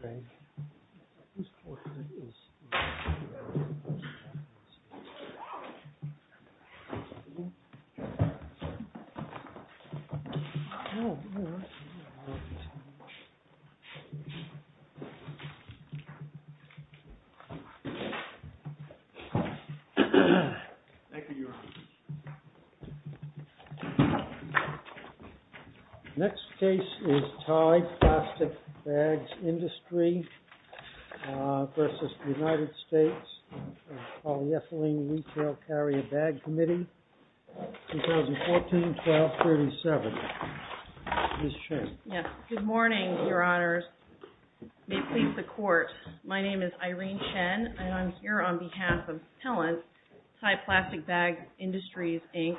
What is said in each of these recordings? Thank you, Your Honor. Next case is Tye Plastic Bags Industries v. United States Polyethylene Retail Carrier Bag Committee, 2014-12-37. Ms. Chen. Yes. Good morning, Your Honors. May it please the Court, my name is Irene Chen and I'm here on behalf of Pellant, Tye Plastic Bags Industries, Inc.,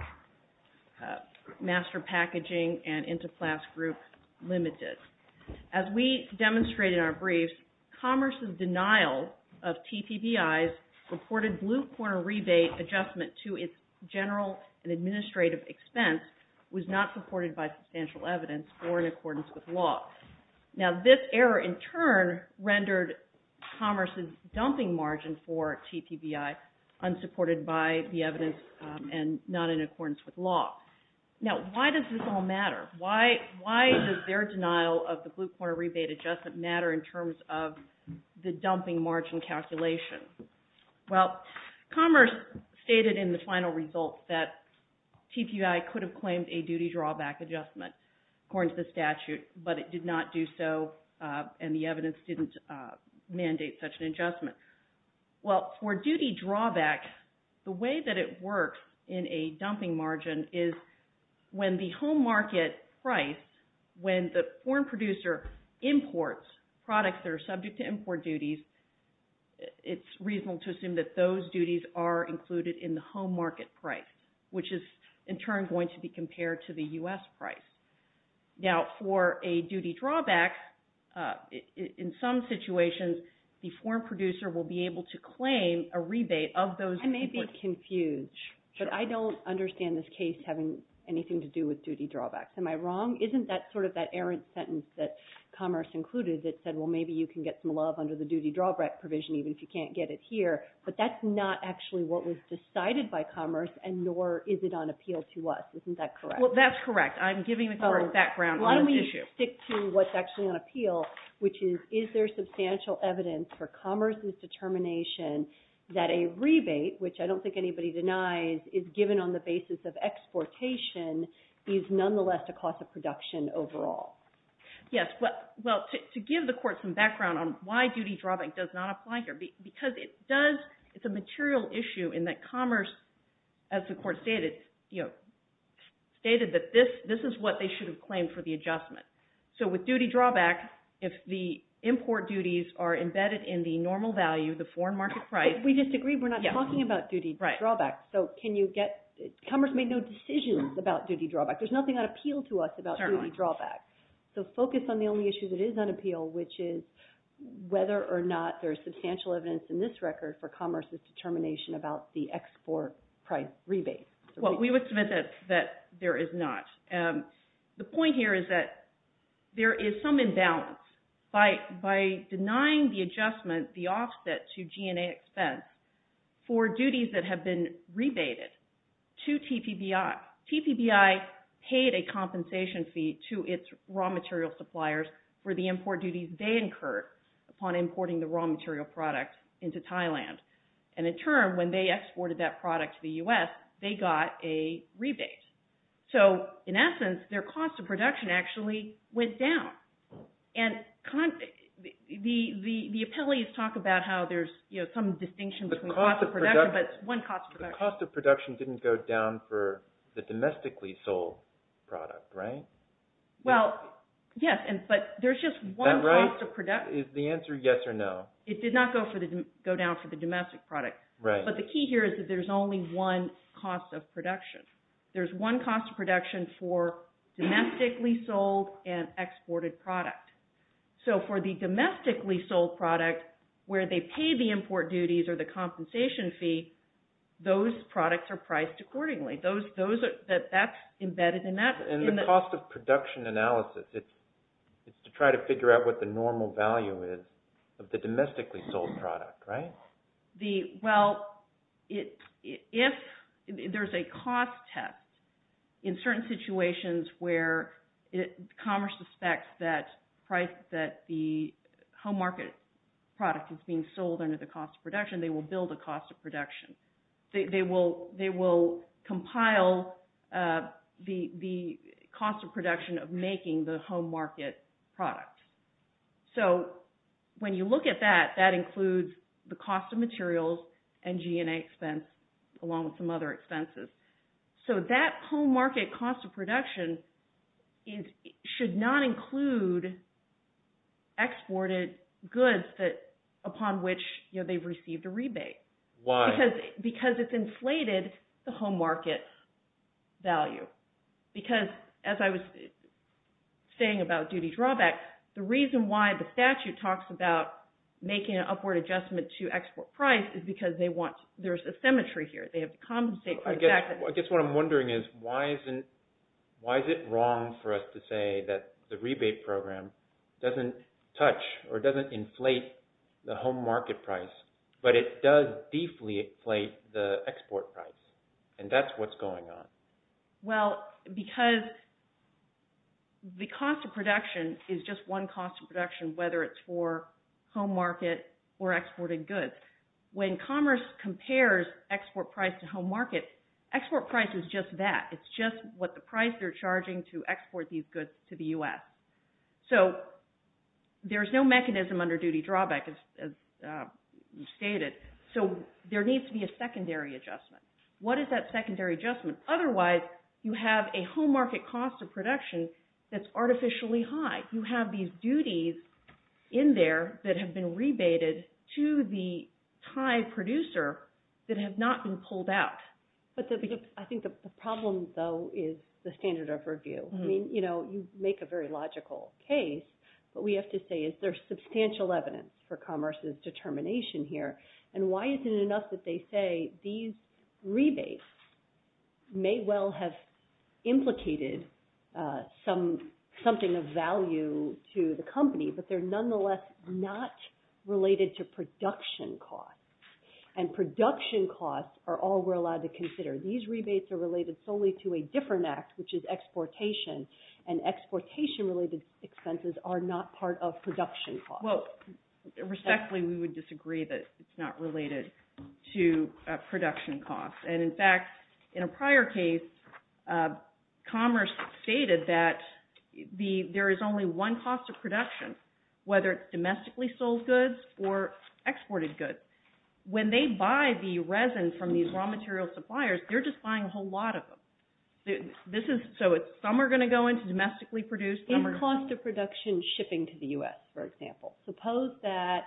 Master Packaging, and Intiplast Group, Ltd. As we demonstrated in our briefs, commerce's denial of TPBI's reported blue corner rebate adjustment to its general and administrative expense was not supported by substantial evidence or in accordance with law. Now this error in turn rendered commerce's dumping margin for TPBI unsupported by the evidence and not in accordance with law. Now why does this all matter? Why does their denial of the blue corner rebate adjustment matter in terms of the dumping margin calculation? Well commerce stated in the final results that TPBI could have claimed a duty drawback adjustment according to the statute but it did not do so and the evidence didn't mandate such an adjustment. Well for duty drawbacks, the way that it works in a dumping margin is when the home market price, when the foreign producer imports products that are subject to import duties, it's reasonable to assume that those duties are included in the home market price, which is in turn going to be compared to the U.S. price. Now for a duty drawback, in some situations, the foreign producer will be able to claim a rebate of those imports. I may be confused, but I don't understand this case having anything to do with duty drawbacks. Am I wrong? Isn't that sort of that errant sentence that commerce included that said, well maybe you can get some love under the duty drawback provision even if you can't get it here, but that's not actually what was decided by commerce and nor is it on appeal to us. Isn't that correct? Well that's correct. I'm giving the court background on this issue. Why don't we stick to what's actually on appeal, which is, is there substantial evidence for commerce's determination that a rebate, which I don't think anybody denies, is given on the basis of exportation is nonetheless the cost of production overall? Yes. Well, to give the court some background on why duty drawback does not apply here, because it does, it's a material issue in that commerce, as the court stated, stated that this is what they should have claimed for the adjustment. So with duty drawback, if the import duties are embedded in the normal value, the foreign market price. We disagree. We're not talking about duty drawback. Right. So can you get, commerce made no decisions about duty drawback. There's nothing on appeal to us about duty drawback. So focus on the only issue that is on appeal, which is whether or not there's substantial evidence in this record for commerce's determination about the export price rebate. Well, we would submit that there is not. The point here is that there is some imbalance. By denying the adjustment, the offset to G&A expense for duties that have been rebated to TPBI, TPBI paid a compensation fee to its raw material suppliers for the import duties they incurred upon importing the raw material product into Thailand. And in turn, when they exported that product to the U.S., they got a rebate. So in essence, their cost of production actually went down. And the appellees talk about how there's some distinction between cost of production, but it's one cost of production. The cost of production didn't go down for the domestically sold product, right? Well, yes. But there's just one cost of production. Is the answer yes or no? It did not go down for the domestic product. Right. But the key here is that there's only one cost of production. There's one cost of production for domestically sold and exported product. So for the domestically sold product, where they pay the import duties or the compensation fee, those products are priced accordingly. That's embedded in that. In the cost of production analysis, it's to try to figure out what the normal value is of the domestically sold product, right? Well, if there's a cost test in certain situations where commerce suspects that the home market product is being sold under the cost of production, they will build a cost of production. They will compile the cost of production of making the home market product. So when you look at that, that includes the cost of materials and G&A expense along with some other expenses. So that home market cost of production should not include exported goods upon which they've received a rebate. Why? Because it's inflated the home market value. Because as I was saying about duty drawback, the reason why the statute talks about making an upward adjustment to export price is because there's a symmetry here. They have to compensate for the fact that... I guess what I'm wondering is why is it wrong for us to say that the rebate program doesn't touch or doesn't inflate the home market price, but it does deeply inflate the export price? And that's what's going on. Well, because the cost of production is just one cost of production, whether it's for home market or exported goods. When commerce compares export price to home market, export price is just that. It's just what the price they're charging to export these goods to the U.S. So there's no mechanism under duty drawback, as you stated. So there needs to be a secondary adjustment. What is that secondary adjustment? Otherwise, you have a home market cost of production that's artificially high. You have these duties in there that have been rebated to the Thai producer that have not been pulled out. But I think the problem, though, is the standard of review. I mean, you know, you make a very logical case, but we have to say, is there substantial evidence for commerce's determination here? And why is it enough that they say these rebates may well have implicated something of value to the company, but they're nonetheless not related to production costs? And production costs are all we're allowed to consider. These rebates are related solely to a different act, which is exportation. And exportation-related expenses are not part of production costs. Well, respectfully, we would disagree that it's not related to production costs. And in fact, in a prior case, commerce stated that there is only one cost of production, whether it's domestically sold goods or exported goods. When they buy the resin from these raw material suppliers, they're just buying a whole lot of them. So some are going to go into domestically produced, some are going to... In cost of production shipping to the U.S., for example, suppose that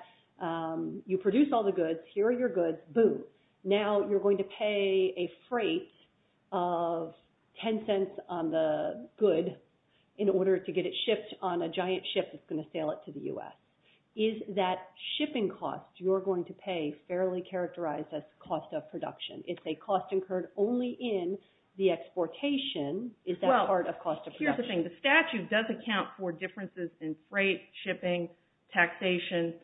you produce all the goods, here are your goods, boom. Now you're going to pay a freight of 10 cents on the good in order to get it shipped on a giant ship that's going to sail it to the U.S. Is that shipping cost you're going to pay fairly characterized as cost of production? If they cost incurred only in the exportation, is that part of cost of production? Well, here's the thing. The statute does account for differences in freight, shipping, taxation,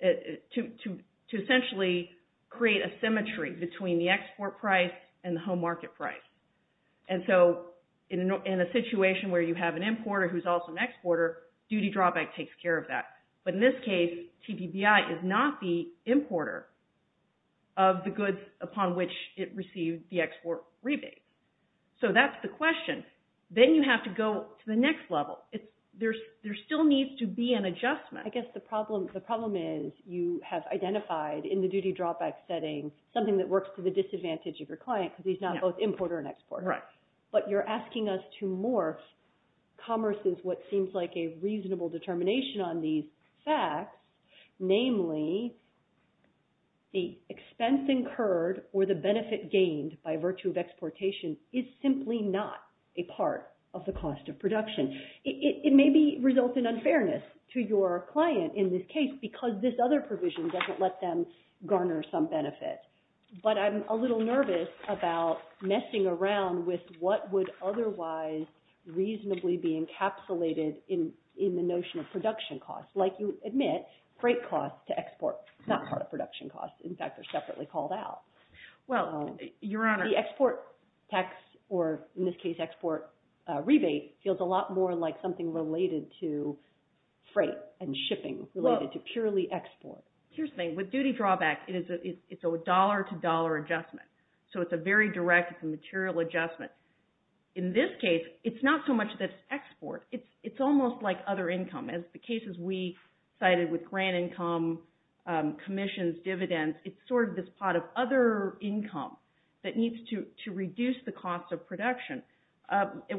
to essentially create a symmetry between the export price and the home market price. And so in a situation where you have an importer who's also an exporter, duty drawback takes care of that. But in this case, TPBI is not the importer of the goods upon which it received the export rebates. So that's the question. Then you have to go to the next level. There still needs to be an adjustment. I guess the problem is you have identified in the duty drawback setting something that works to the disadvantage of your client because he's not both importer and exporter. But you're asking us to morph commerce's, what seems like a reasonable determination on these facts, namely the expense incurred or the benefit gained by virtue of exportation is simply not a part of the cost of production. It may result in unfairness to your client in this case because this other provision doesn't let them garner some benefit. But I'm a little nervous about messing around with what would otherwise reasonably be encapsulated in the notion of production costs. Like you admit, freight costs to export is not part of production costs. In fact, they're separately called out. Well, Your Honor. The export tax or in this case export rebate feels a lot more like something related to freight and shipping related to purely export. Here's the thing. With duty drawback, it's a dollar to dollar adjustment. So it's a very direct, it's a material adjustment. In this case, it's not so much that it's export. It's almost like other income. As the cases we cited with grant income, commissions, dividends, it's sort of this pot of other income that needs to reduce the cost of production.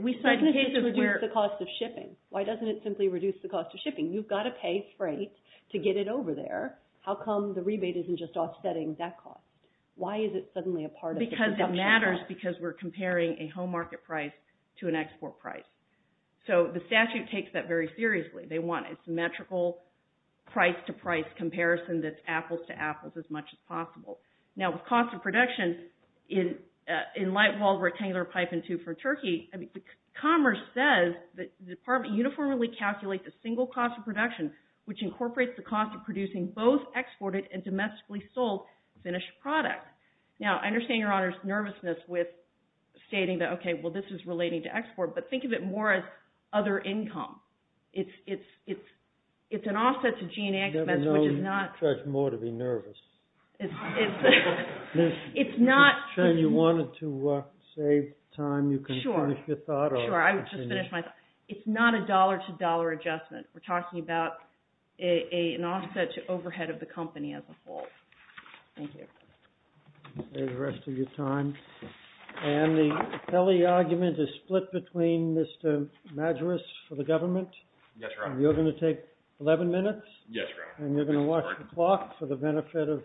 We cited cases where- Why doesn't it just reduce the cost of shipping? Why doesn't it simply reduce the cost of shipping? You've got to pay freight to get it over there. How come the rebate isn't just offsetting that cost? Why is it suddenly a part of the production cost? Because it matters because we're comparing a home market price to an export price. So the statute takes that very seriously. They want a symmetrical price to price comparison that's apples to apples as much as possible. Now with cost of production, in light walled rectangular pipe in two for Turkey, Commerce says that the department uniformly calculates a single cost of production which incorporates the cost of producing both exported and domestically sold finished product. Now I understand Your Honor's nervousness with stating that, okay, well this is relating to export, but think of it more as other income. It's an offset to G and A expense which is not- You never know, you'll charge more to be nervous. It's not- If you wanted to save time, you can finish your thought or- Sure. Sure, I would just finish my thought. It's not a dollar to dollar adjustment. We're talking about an offset to overhead of the company as a whole. Thank you. You can save the rest of your time. And the appellee argument is split between Mr. Madras for the government. Yes, Your Honor. And you're going to take 11 minutes. Yes, Your Honor. And you're going to watch the clock for the benefit of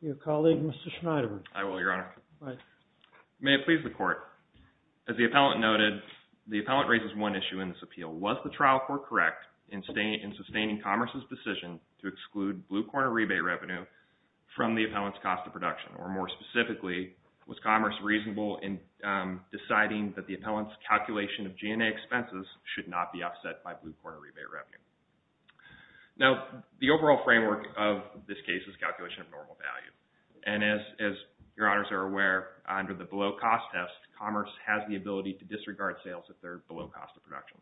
your colleague Mr. Schneider. I will, Your Honor. All right. May it please the court, as the appellant noted, the appellant raises one issue in this appeal. Was the trial court correct in sustaining Commerce's decision to exclude blue corner rebate revenue from the appellant's cost of production? Or more specifically, was Commerce reasonable in deciding that the appellant's calculation of G&A expenses should not be offset by blue corner rebate revenue? Now, the overall framework of this case is calculation of normal value. And as Your Honors are aware, under the below cost test, Commerce has the ability to disregard sales if they're below cost of production.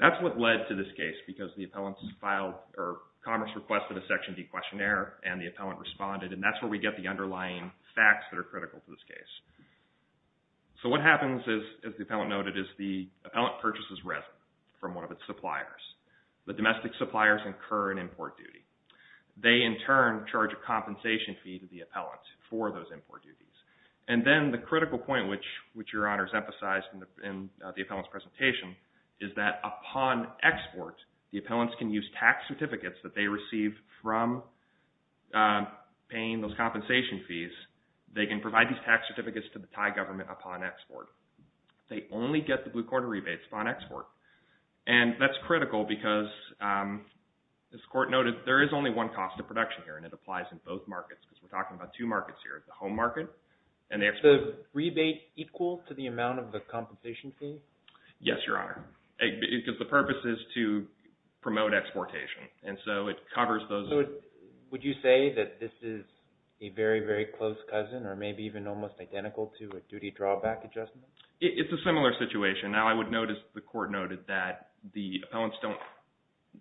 That's what led to this case because the appellant's file or Commerce requested a Section D questionnaire and the appellant responded. And that's where we get the underlying facts that are critical to this case. So what happens is, as the appellant noted, is the appellant purchases residue from one of its suppliers. The domestic suppliers incur an import duty. They in turn charge a compensation fee to the appellant for those import duties. And what that means is that, upon export, the appellants can use tax certificates that they receive from paying those compensation fees. They can provide these tax certificates to the Thai government upon export. They only get the blue corner rebates upon export. And that's critical because, as the court noted, there is only one cost of production here and it applies in both markets because we're talking about two markets here, the home market and the export. Is the rebate equal to the amount of the compensation fee? Yes, Your Honor, because the purpose is to promote exportation. And so it covers those... Would you say that this is a very, very close cousin or maybe even almost identical to a duty drawback adjustment? It's a similar situation. Now, I would note, as the court noted, that the appellants don't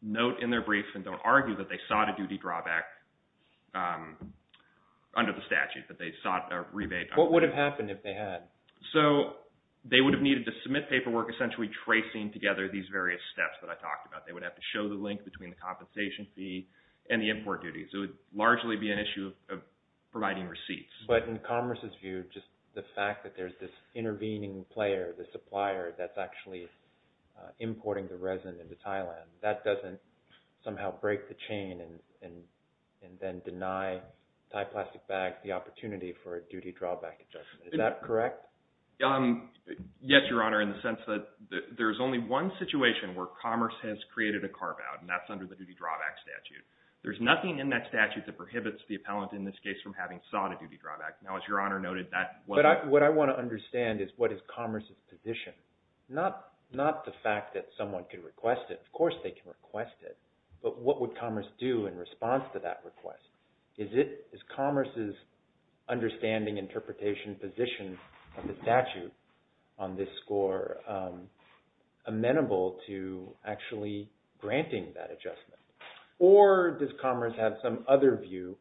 note in their brief and don't argue that they sought a duty drawback under the statute, that they sought a rebate. What would have happened if they had? So they would have needed to submit paperwork essentially tracing together these various steps that I talked about. They would have to show the link between the compensation fee and the import duties. It would largely be an issue of providing receipts. But in Commerce's view, just the fact that there's this intervening player, the supplier that's actually importing the resin into Thailand, that doesn't somehow break the chain and then deny Thai Plastic Bags the opportunity for a duty drawback adjustment. Is that correct? Yes, Your Honor, in the sense that there's only one situation where Commerce has created a carve-out, and that's under the duty drawback statute. There's nothing in that statute that prohibits the appellant, in this case, from having sought a duty drawback. Now, as Your Honor noted, that wasn't... What I want to understand is what is Commerce's position? Not the fact that someone could request it. Of course they can request it, but what would Commerce do in response to that request? Is Commerce's understanding, interpretation, position of the statute on this score amenable to actually granting that adjustment? Or does Commerce have some other view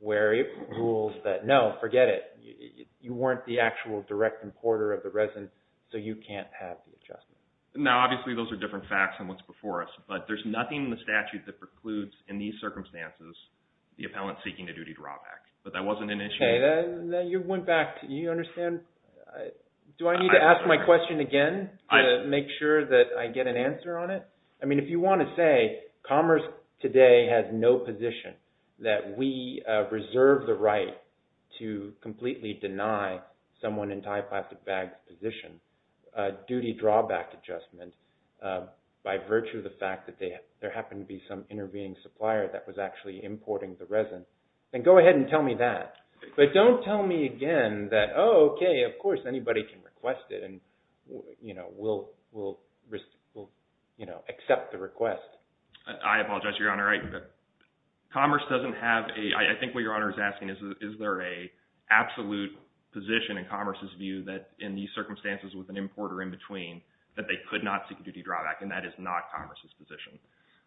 where it rules that, no, forget it. You weren't the actual direct importer of the resin, so you can't have the adjustment. Now, obviously those are different facts than what's before us, but there's nothing in the statute that prohibits the appellant seeking a duty drawback. But that wasn't an issue... Okay. Now, you went back. Do you understand? Do I need to ask my question again to make sure that I get an answer on it? I mean, if you want to say Commerce today has no position, that we reserve the right to completely deny someone in Type 5 to VAG's position a duty drawback adjustment by virtue of the fact that there happened to be some intervening supplier that was actually importing the resin, then go ahead and tell me that. But don't tell me again that, oh, okay, of course anybody can request it, and we'll accept the request. I apologize, Your Honor. Commerce doesn't have a... I think what Your Honor is asking is, is there an absolute position in Commerce's view that in these circumstances with an importer in between, that they could not seek a duty drawback, and that is not Commerce's position.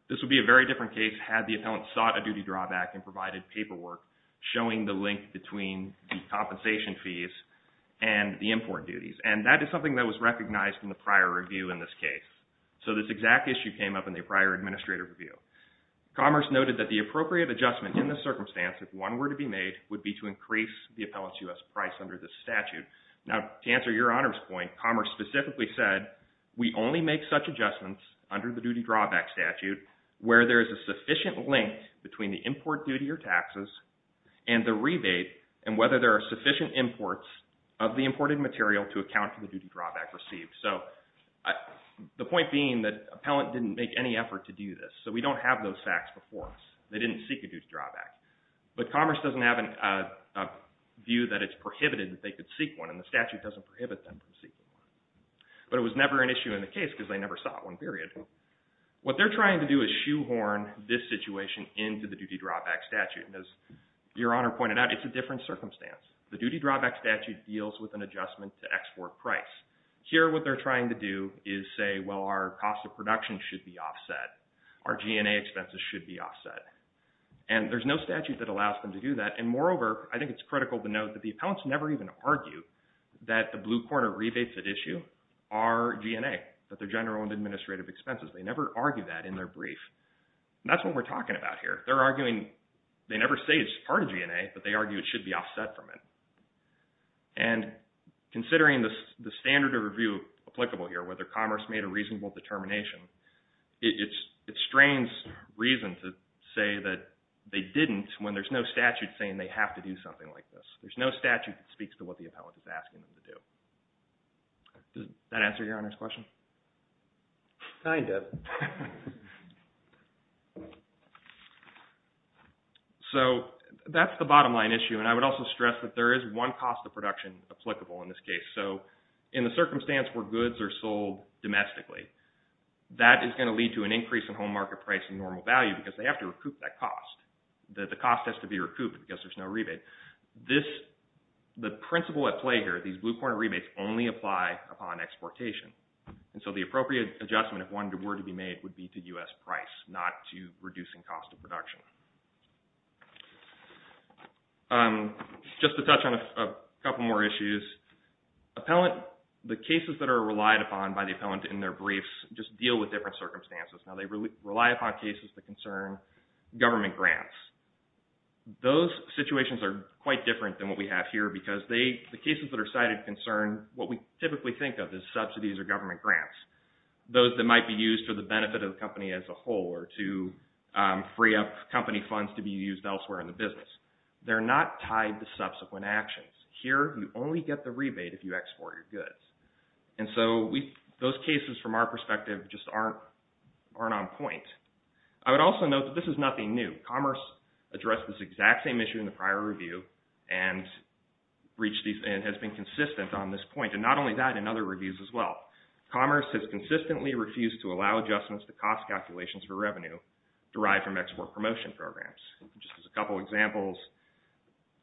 This would be a very different case had the appellant sought a duty drawback and provided paperwork showing the link between the compensation fees and the import duties. And that is something that was recognized in the prior review in this case. So this exact issue came up in the prior administrative review. Commerce noted that the appropriate adjustment in this circumstance, if one were to be made, would be to increase the appellant's U.S. price under this statute. Now, to answer Your Honor's point, Commerce specifically said, we only make such adjustments under the duty drawback statute where there is a sufficient link between the import duty or taxes and the rebate, and whether there are sufficient imports of the imported material to account for the duty drawback received. So the point being that appellant didn't make any effort to do this, so we don't have those facts before us. They didn't seek a duty drawback. But Commerce doesn't have a view that it's prohibited that they could seek one, and the statute doesn't prohibit them from seeking one. But it was never an issue in the case because they never sought one, period. What they're trying to do is shoehorn this situation into the duty drawback statute. And as Your Honor pointed out, it's a different circumstance. The duty drawback statute deals with an adjustment to export price. Here what they're trying to do is say, well, our cost of production should be offset. Our G&A expenses should be offset. And there's no statute that allows them to do that. And moreover, I think it's critical to note that the appellants never even argue that the blue corner rebates at issue are G&A, that they're general and administrative expenses. They never argue that in their brief. And that's what we're talking about here. They're arguing, they never say it's part of G&A, but they argue it should be offset from it. And considering the standard of review applicable here, whether Commerce made a reasonable determination, it strains reason to say that they didn't when there's no statute saying they have to do something like this. There's no statute that speaks to what the appellant is asking them to do. Does that answer Your Honor's question? Kind of. So that's the bottom line issue. And I would also stress that there is one cost of production applicable in this case. So in the circumstance where goods are sold domestically, that is going to lead to an increase in home market price and normal value because they have to recoup that cost. The cost has to be recouped because there's no rebate. The principle at play here, these blue corner rebates only apply upon exportation. And so the appropriate adjustment, if one were to be made, would be to U.S. price, not to reducing cost of production. Just to touch on a couple more issues, the cases that are relied upon by the appellant in their briefs just deal with different circumstances. Now, they rely upon cases that concern government grants. Those situations are quite different than what we have here because the cases that are cited concern what we typically think of as subsidies or government grants, those that might be used for the benefit of the company as a whole or to free up company funds to be used elsewhere in the business. They're not tied to subsequent actions. Here you only get the rebate if you export your goods. And so those cases, from our perspective, just aren't on point. I would also note that this is nothing new. Commerce addressed this exact same issue in the prior review and has been consistent on this point. And not only that, in other reviews as well, commerce has consistently refused to allow adjustments to cost calculations for revenue derived from export promotion programs. Just as a couple examples,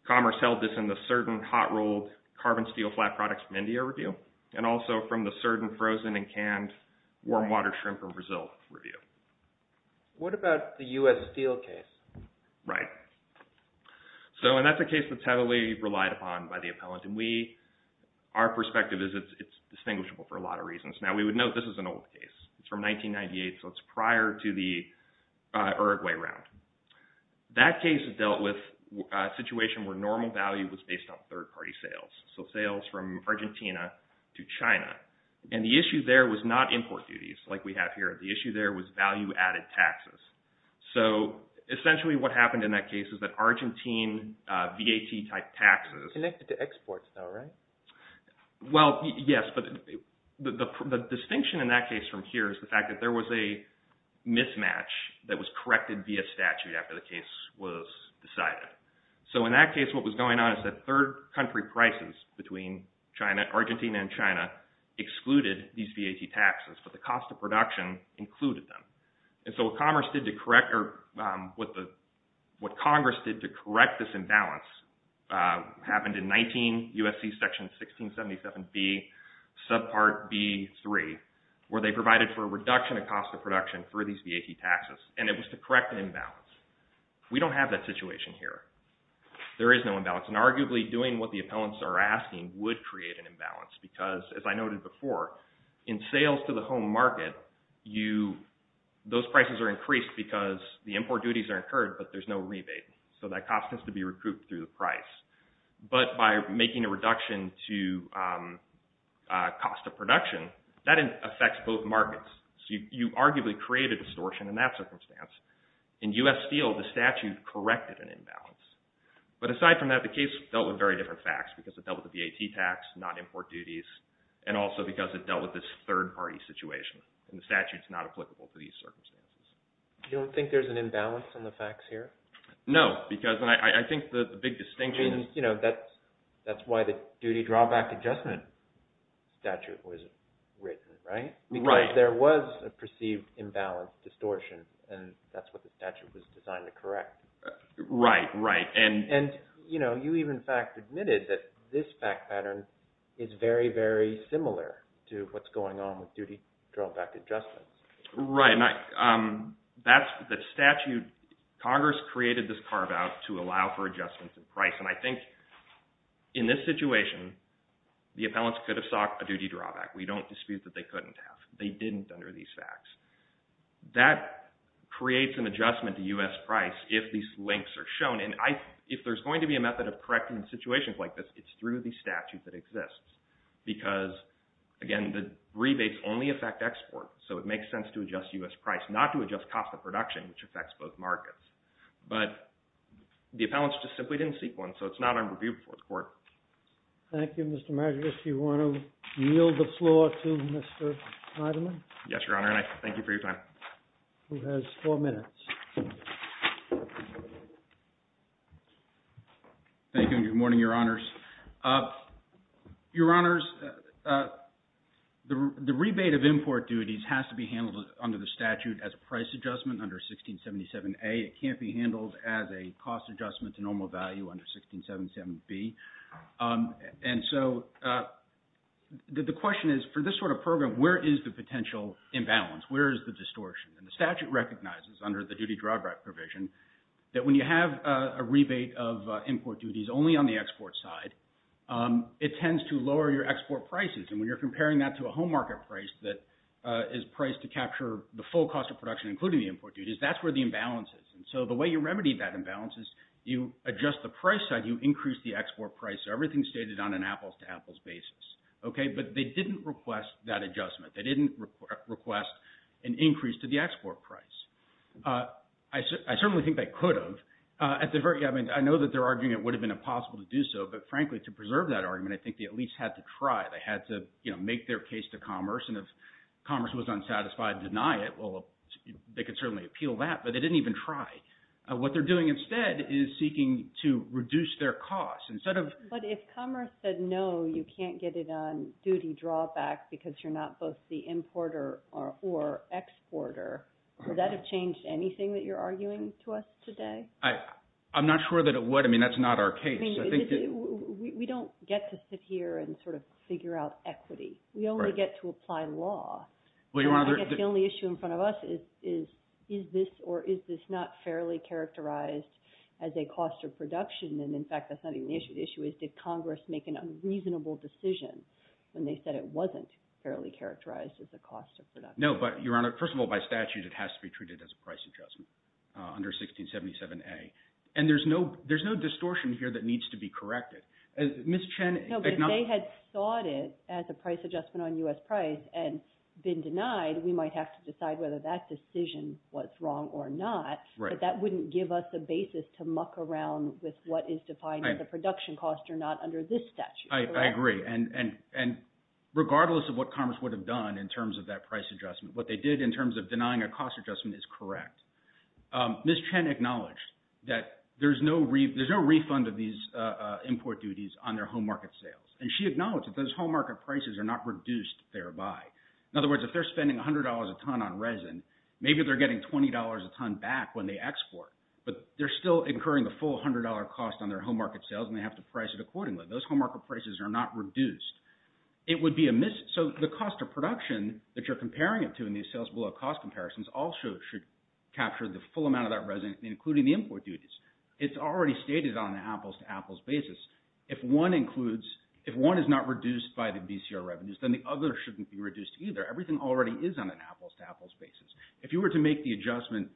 commerce held this in the certain hot rolled carbon steel flat products from India review and also from the certain frozen and canned warm water shrimp from Brazil review. What about the U.S. steel case? Right. So and that's a case that's heavily relied upon by the appellant and we, our perspective is it's distinguishable for a lot of reasons. Now, we would note this is an old case. It's from 1998, so it's prior to the Uruguay round. That case dealt with a situation where normal value was based on third party sales, so sales from Argentina to China. And the issue there was not import duties like we have here. The issue there was value added taxes. So essentially what happened in that case is that Argentine VAT type taxes. Connected to exports though, right? Well, yes. But the distinction in that case from here is the fact that there was a mismatch that was corrected via statute after the case was decided. So in that case, what was going on is that third country prices between China, Argentina and China excluded these VAT taxes. But the cost of production included them. And so what Congress did to correct this imbalance happened in 19 U.S.C. section 1677B subpart B3 where they provided for a reduction in cost of production for these VAT taxes. And it was to correct an imbalance. We don't have that situation here. There is no imbalance. And arguably doing what the appellants are asking would create an imbalance because as I noted before, in sales to the home market, those prices are increased because the import duties are incurred but there's no rebate. So that cost has to be recouped through the price. But by making a reduction to cost of production, that affects both markets. So you arguably create a distortion in that circumstance. In U.S. Steel, the statute corrected an imbalance. But aside from that, the case dealt with very different facts because it dealt with the U.S. Steel and also because it dealt with this third party situation. And the statute is not applicable to these circumstances. You don't think there's an imbalance in the facts here? No, because I think the big distinction. You know, that's why the duty drawback adjustment statute was written, right? Because there was a perceived imbalance distortion. And that's what the statute was designed to correct. Right, right. And, you know, you even in fact admitted that this fact pattern is very, very similar to what's going on with duty drawback adjustments. Right. That's the statute. Congress created this carve out to allow for adjustments in price. And I think in this situation, the appellants could have sought a duty drawback. We don't dispute that they couldn't have. They didn't under these facts. That creates an adjustment to U.S. price if these links are shown. And if there's going to be a method of correcting situations like this, it's through the statute that exists, because, again, the rebates only affect export. So it makes sense to adjust U.S. price, not to adjust cost of production, which affects both markets. But the appellants just simply didn't seek one. So it's not under review before the court. Thank you, Mr. Madrigal. Do you want to yield the floor to Mr. Heidemann? Yes, Your Honor. And I thank you for your time. Who has four minutes. Thank you and good morning, Your Honors. Your Honors, the rebate of import duties has to be handled under the statute as a price adjustment under 1677A. It can't be handled as a cost adjustment to normal value under 1677B. And so the question is, for this sort of program, where is the potential imbalance? Where is the distortion? And the statute recognizes under the duty drawback provision that when you have a rebate of import duties only on the export side, it tends to lower your export prices. And when you're comparing that to a home market price that is priced to capture the full cost of production, including the import duties, that's where the imbalance is. And so the way you remedy that imbalance is you adjust the price side, you increase the export price. Everything's stated on an apples-to-apples basis. Okay. But they didn't request that adjustment. They didn't request an increase to the export price. I certainly think they could have. At the very, I mean, I know that they're arguing it would have been impossible to do so. But frankly, to preserve that argument, I think they at least had to try. They had to make their case to Commerce. And if Commerce was unsatisfied, deny it. Well, they could certainly appeal that. But they didn't even try. What they're doing instead is seeking to reduce their costs. Instead of. But if Commerce said, no, you can't get it on duty drawback because you're not both the importer or exporter, would that have changed anything that you're arguing to us today? I'm not sure that it would. I mean, that's not our case. I think we don't get to sit here and sort of figure out equity. We only get to apply law. Well, you want to get the only issue in front of us is, is this or is this not fairly characterized as a cost of production? And in fact, that's not even the issue. The issue is, did Congress make an unreasonable decision when they said it wasn't fairly characterized as a cost of production? No, but Your Honor, first of all, by statute, it has to be treated as a price adjustment under 1677A. And there's no there's no distortion here that needs to be corrected. Ms. Chen. No, but if they had sought it as a price adjustment on U.S. price and been denied, we might have to decide whether that decision was wrong or not. But that wouldn't give us a basis to muck around with what is defined as a production cost or not under this statute. I agree. And regardless of what Congress would have done in terms of that price adjustment, what they did in terms of denying a cost adjustment is correct. Ms. Chen acknowledged that there's no refund of these import duties on their home market sales. And she acknowledged that those home market prices are not reduced thereby. In other words, if they're spending $100 a ton on resin, maybe they're getting $20 a ton when they export, but they're still incurring the full $100 cost on their home market sales and they have to price it accordingly. Those home market prices are not reduced. It would be a miss. So the cost of production that you're comparing it to in these sales below cost comparisons also should capture the full amount of that resin, including the import duties. It's already stated on an apples to apples basis. If one includes if one is not reduced by the BCR revenues, then the other shouldn't be reduced either. Everything already is on an apples to apples basis. If you were to make the adjustment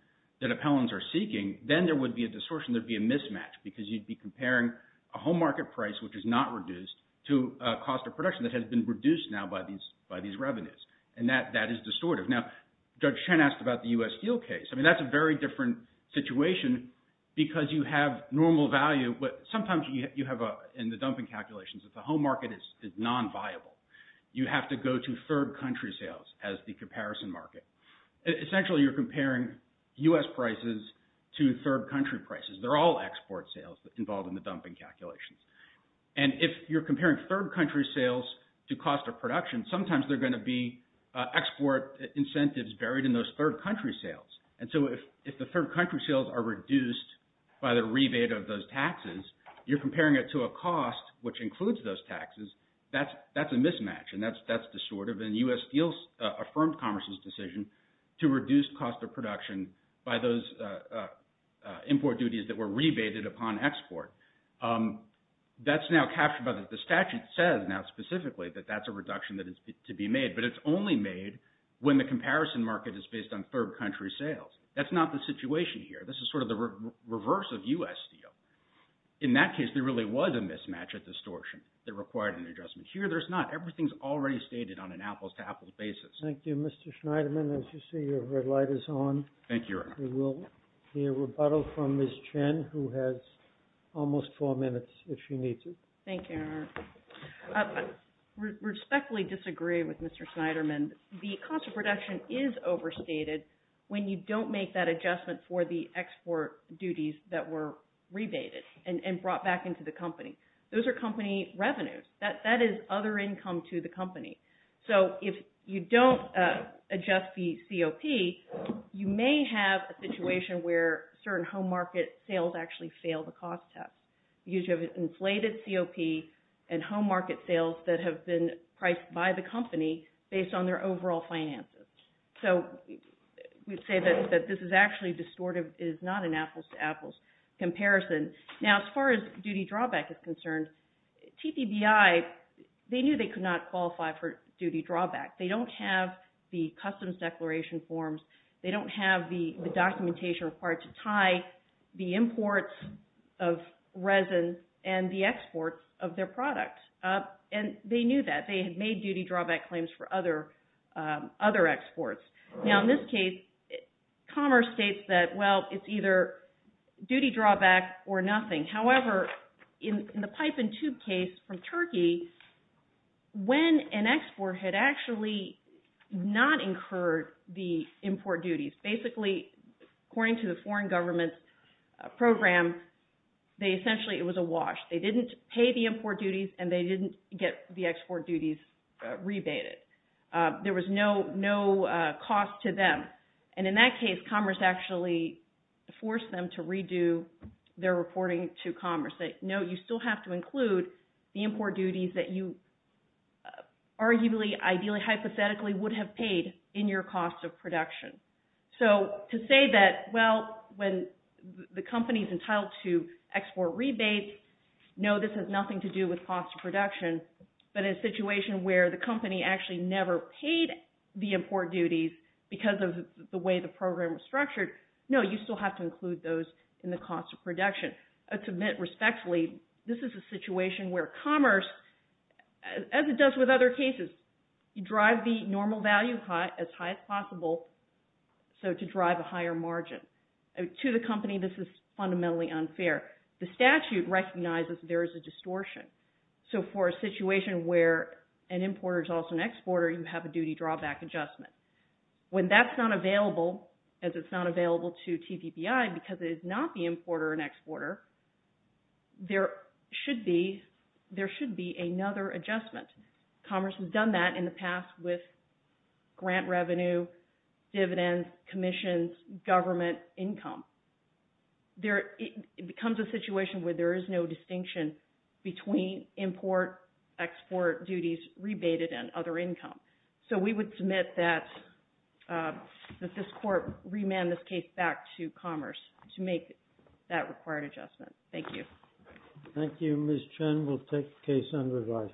that appellants are seeking, then there would be a distortion. There'd be a mismatch because you'd be comparing a home market price, which is not reduced, to a cost of production that has been reduced now by these revenues. And that is distortive. Now, Judge Chen asked about the U.S. Steel case. I mean, that's a very different situation because you have normal value. But sometimes you have in the dumping calculations that the home market is non-viable. You have to go to third country sales as the comparison market. Essentially, you're comparing U.S. prices to third country prices. They're all export sales involved in the dumping calculations. And if you're comparing third country sales to cost of production, sometimes they're going to be export incentives buried in those third country sales. And so if if the third country sales are reduced by the rebate of those taxes, you're comparing it to a cost which includes those taxes. That's that's a mismatch. And that's that's distortive. And U.S. Steel's affirmed Commerce's decision to reduce cost of production by those import duties that were rebated upon export. That's now captured by the statute says now specifically that that's a reduction that is to be made. But it's only made when the comparison market is based on third country sales. That's not the situation here. This is sort of the reverse of U.S. Steel. In that case, there really was a mismatch at distortion that required an adjustment. Here, there's not. Everything's already stated on an apples to apples basis. Thank you, Mr. Schneiderman. As you see, your red light is on. Thank you. We will hear rebuttal from Ms. Chen, who has almost four minutes if she needs it. Thank you. I respectfully disagree with Mr. Schneiderman. The cost of production is overstated when you don't make that adjustment for the export duties that were rebated and brought back into the company. Those are company revenues. That is other income to the company. So if you don't adjust the COP, you may have a situation where certain home market sales actually fail the cost test. You have inflated COP and home market sales that have been priced by the company based on their overall finances. So we'd say that this is actually distortive. It is not an apples to apples comparison. Now, as far as duty drawback is concerned, TPBI, they knew they could not qualify for duty drawback. They don't have the customs declaration forms. They don't have the documentation required to tie the imports of resin and the exports of their product. And they knew that. They had made duty drawback claims for other exports. Now, in this case, Commerce states that, well, it's either duty drawback or nothing. However, in the pipe and tube case from Turkey, when an export had actually not incurred the import duties, basically, according to the foreign government's program, they essentially it was a wash. They didn't pay the import duties and they didn't get the export duties rebated. There was no no cost to them. And in that case, Commerce actually forced them to redo their reporting to Commerce. They know you still have to include the import duties that you arguably, ideally, hypothetically would have paid in your cost of production. So to say that, well, when the company's entitled to export rebates, no, this has nothing to do with cost of production, but in a situation where the company actually never paid the import duties because of the way the program was structured, no, you still have to include those in the cost of production. To admit respectfully, this is a situation where Commerce, as it does with other cases, you drive the normal value as high as possible. So to drive a higher margin to the company, this is fundamentally unfair. The statute recognizes there is a distortion. So for a situation where an importer is also an exporter, you have a duty drawback adjustment. When that's not available, as it's not available to TPPI because it is not the importer and exporter, there should be another adjustment. Commerce has done that in the past with grant revenue, dividends, commissions, government income. It becomes a situation where there is no distinction between import-export duties rebated and other income. So we would submit that this court remand this case back to Commerce to make that required adjustment. Thank you. Thank you. Ms. Chen will take the case under review.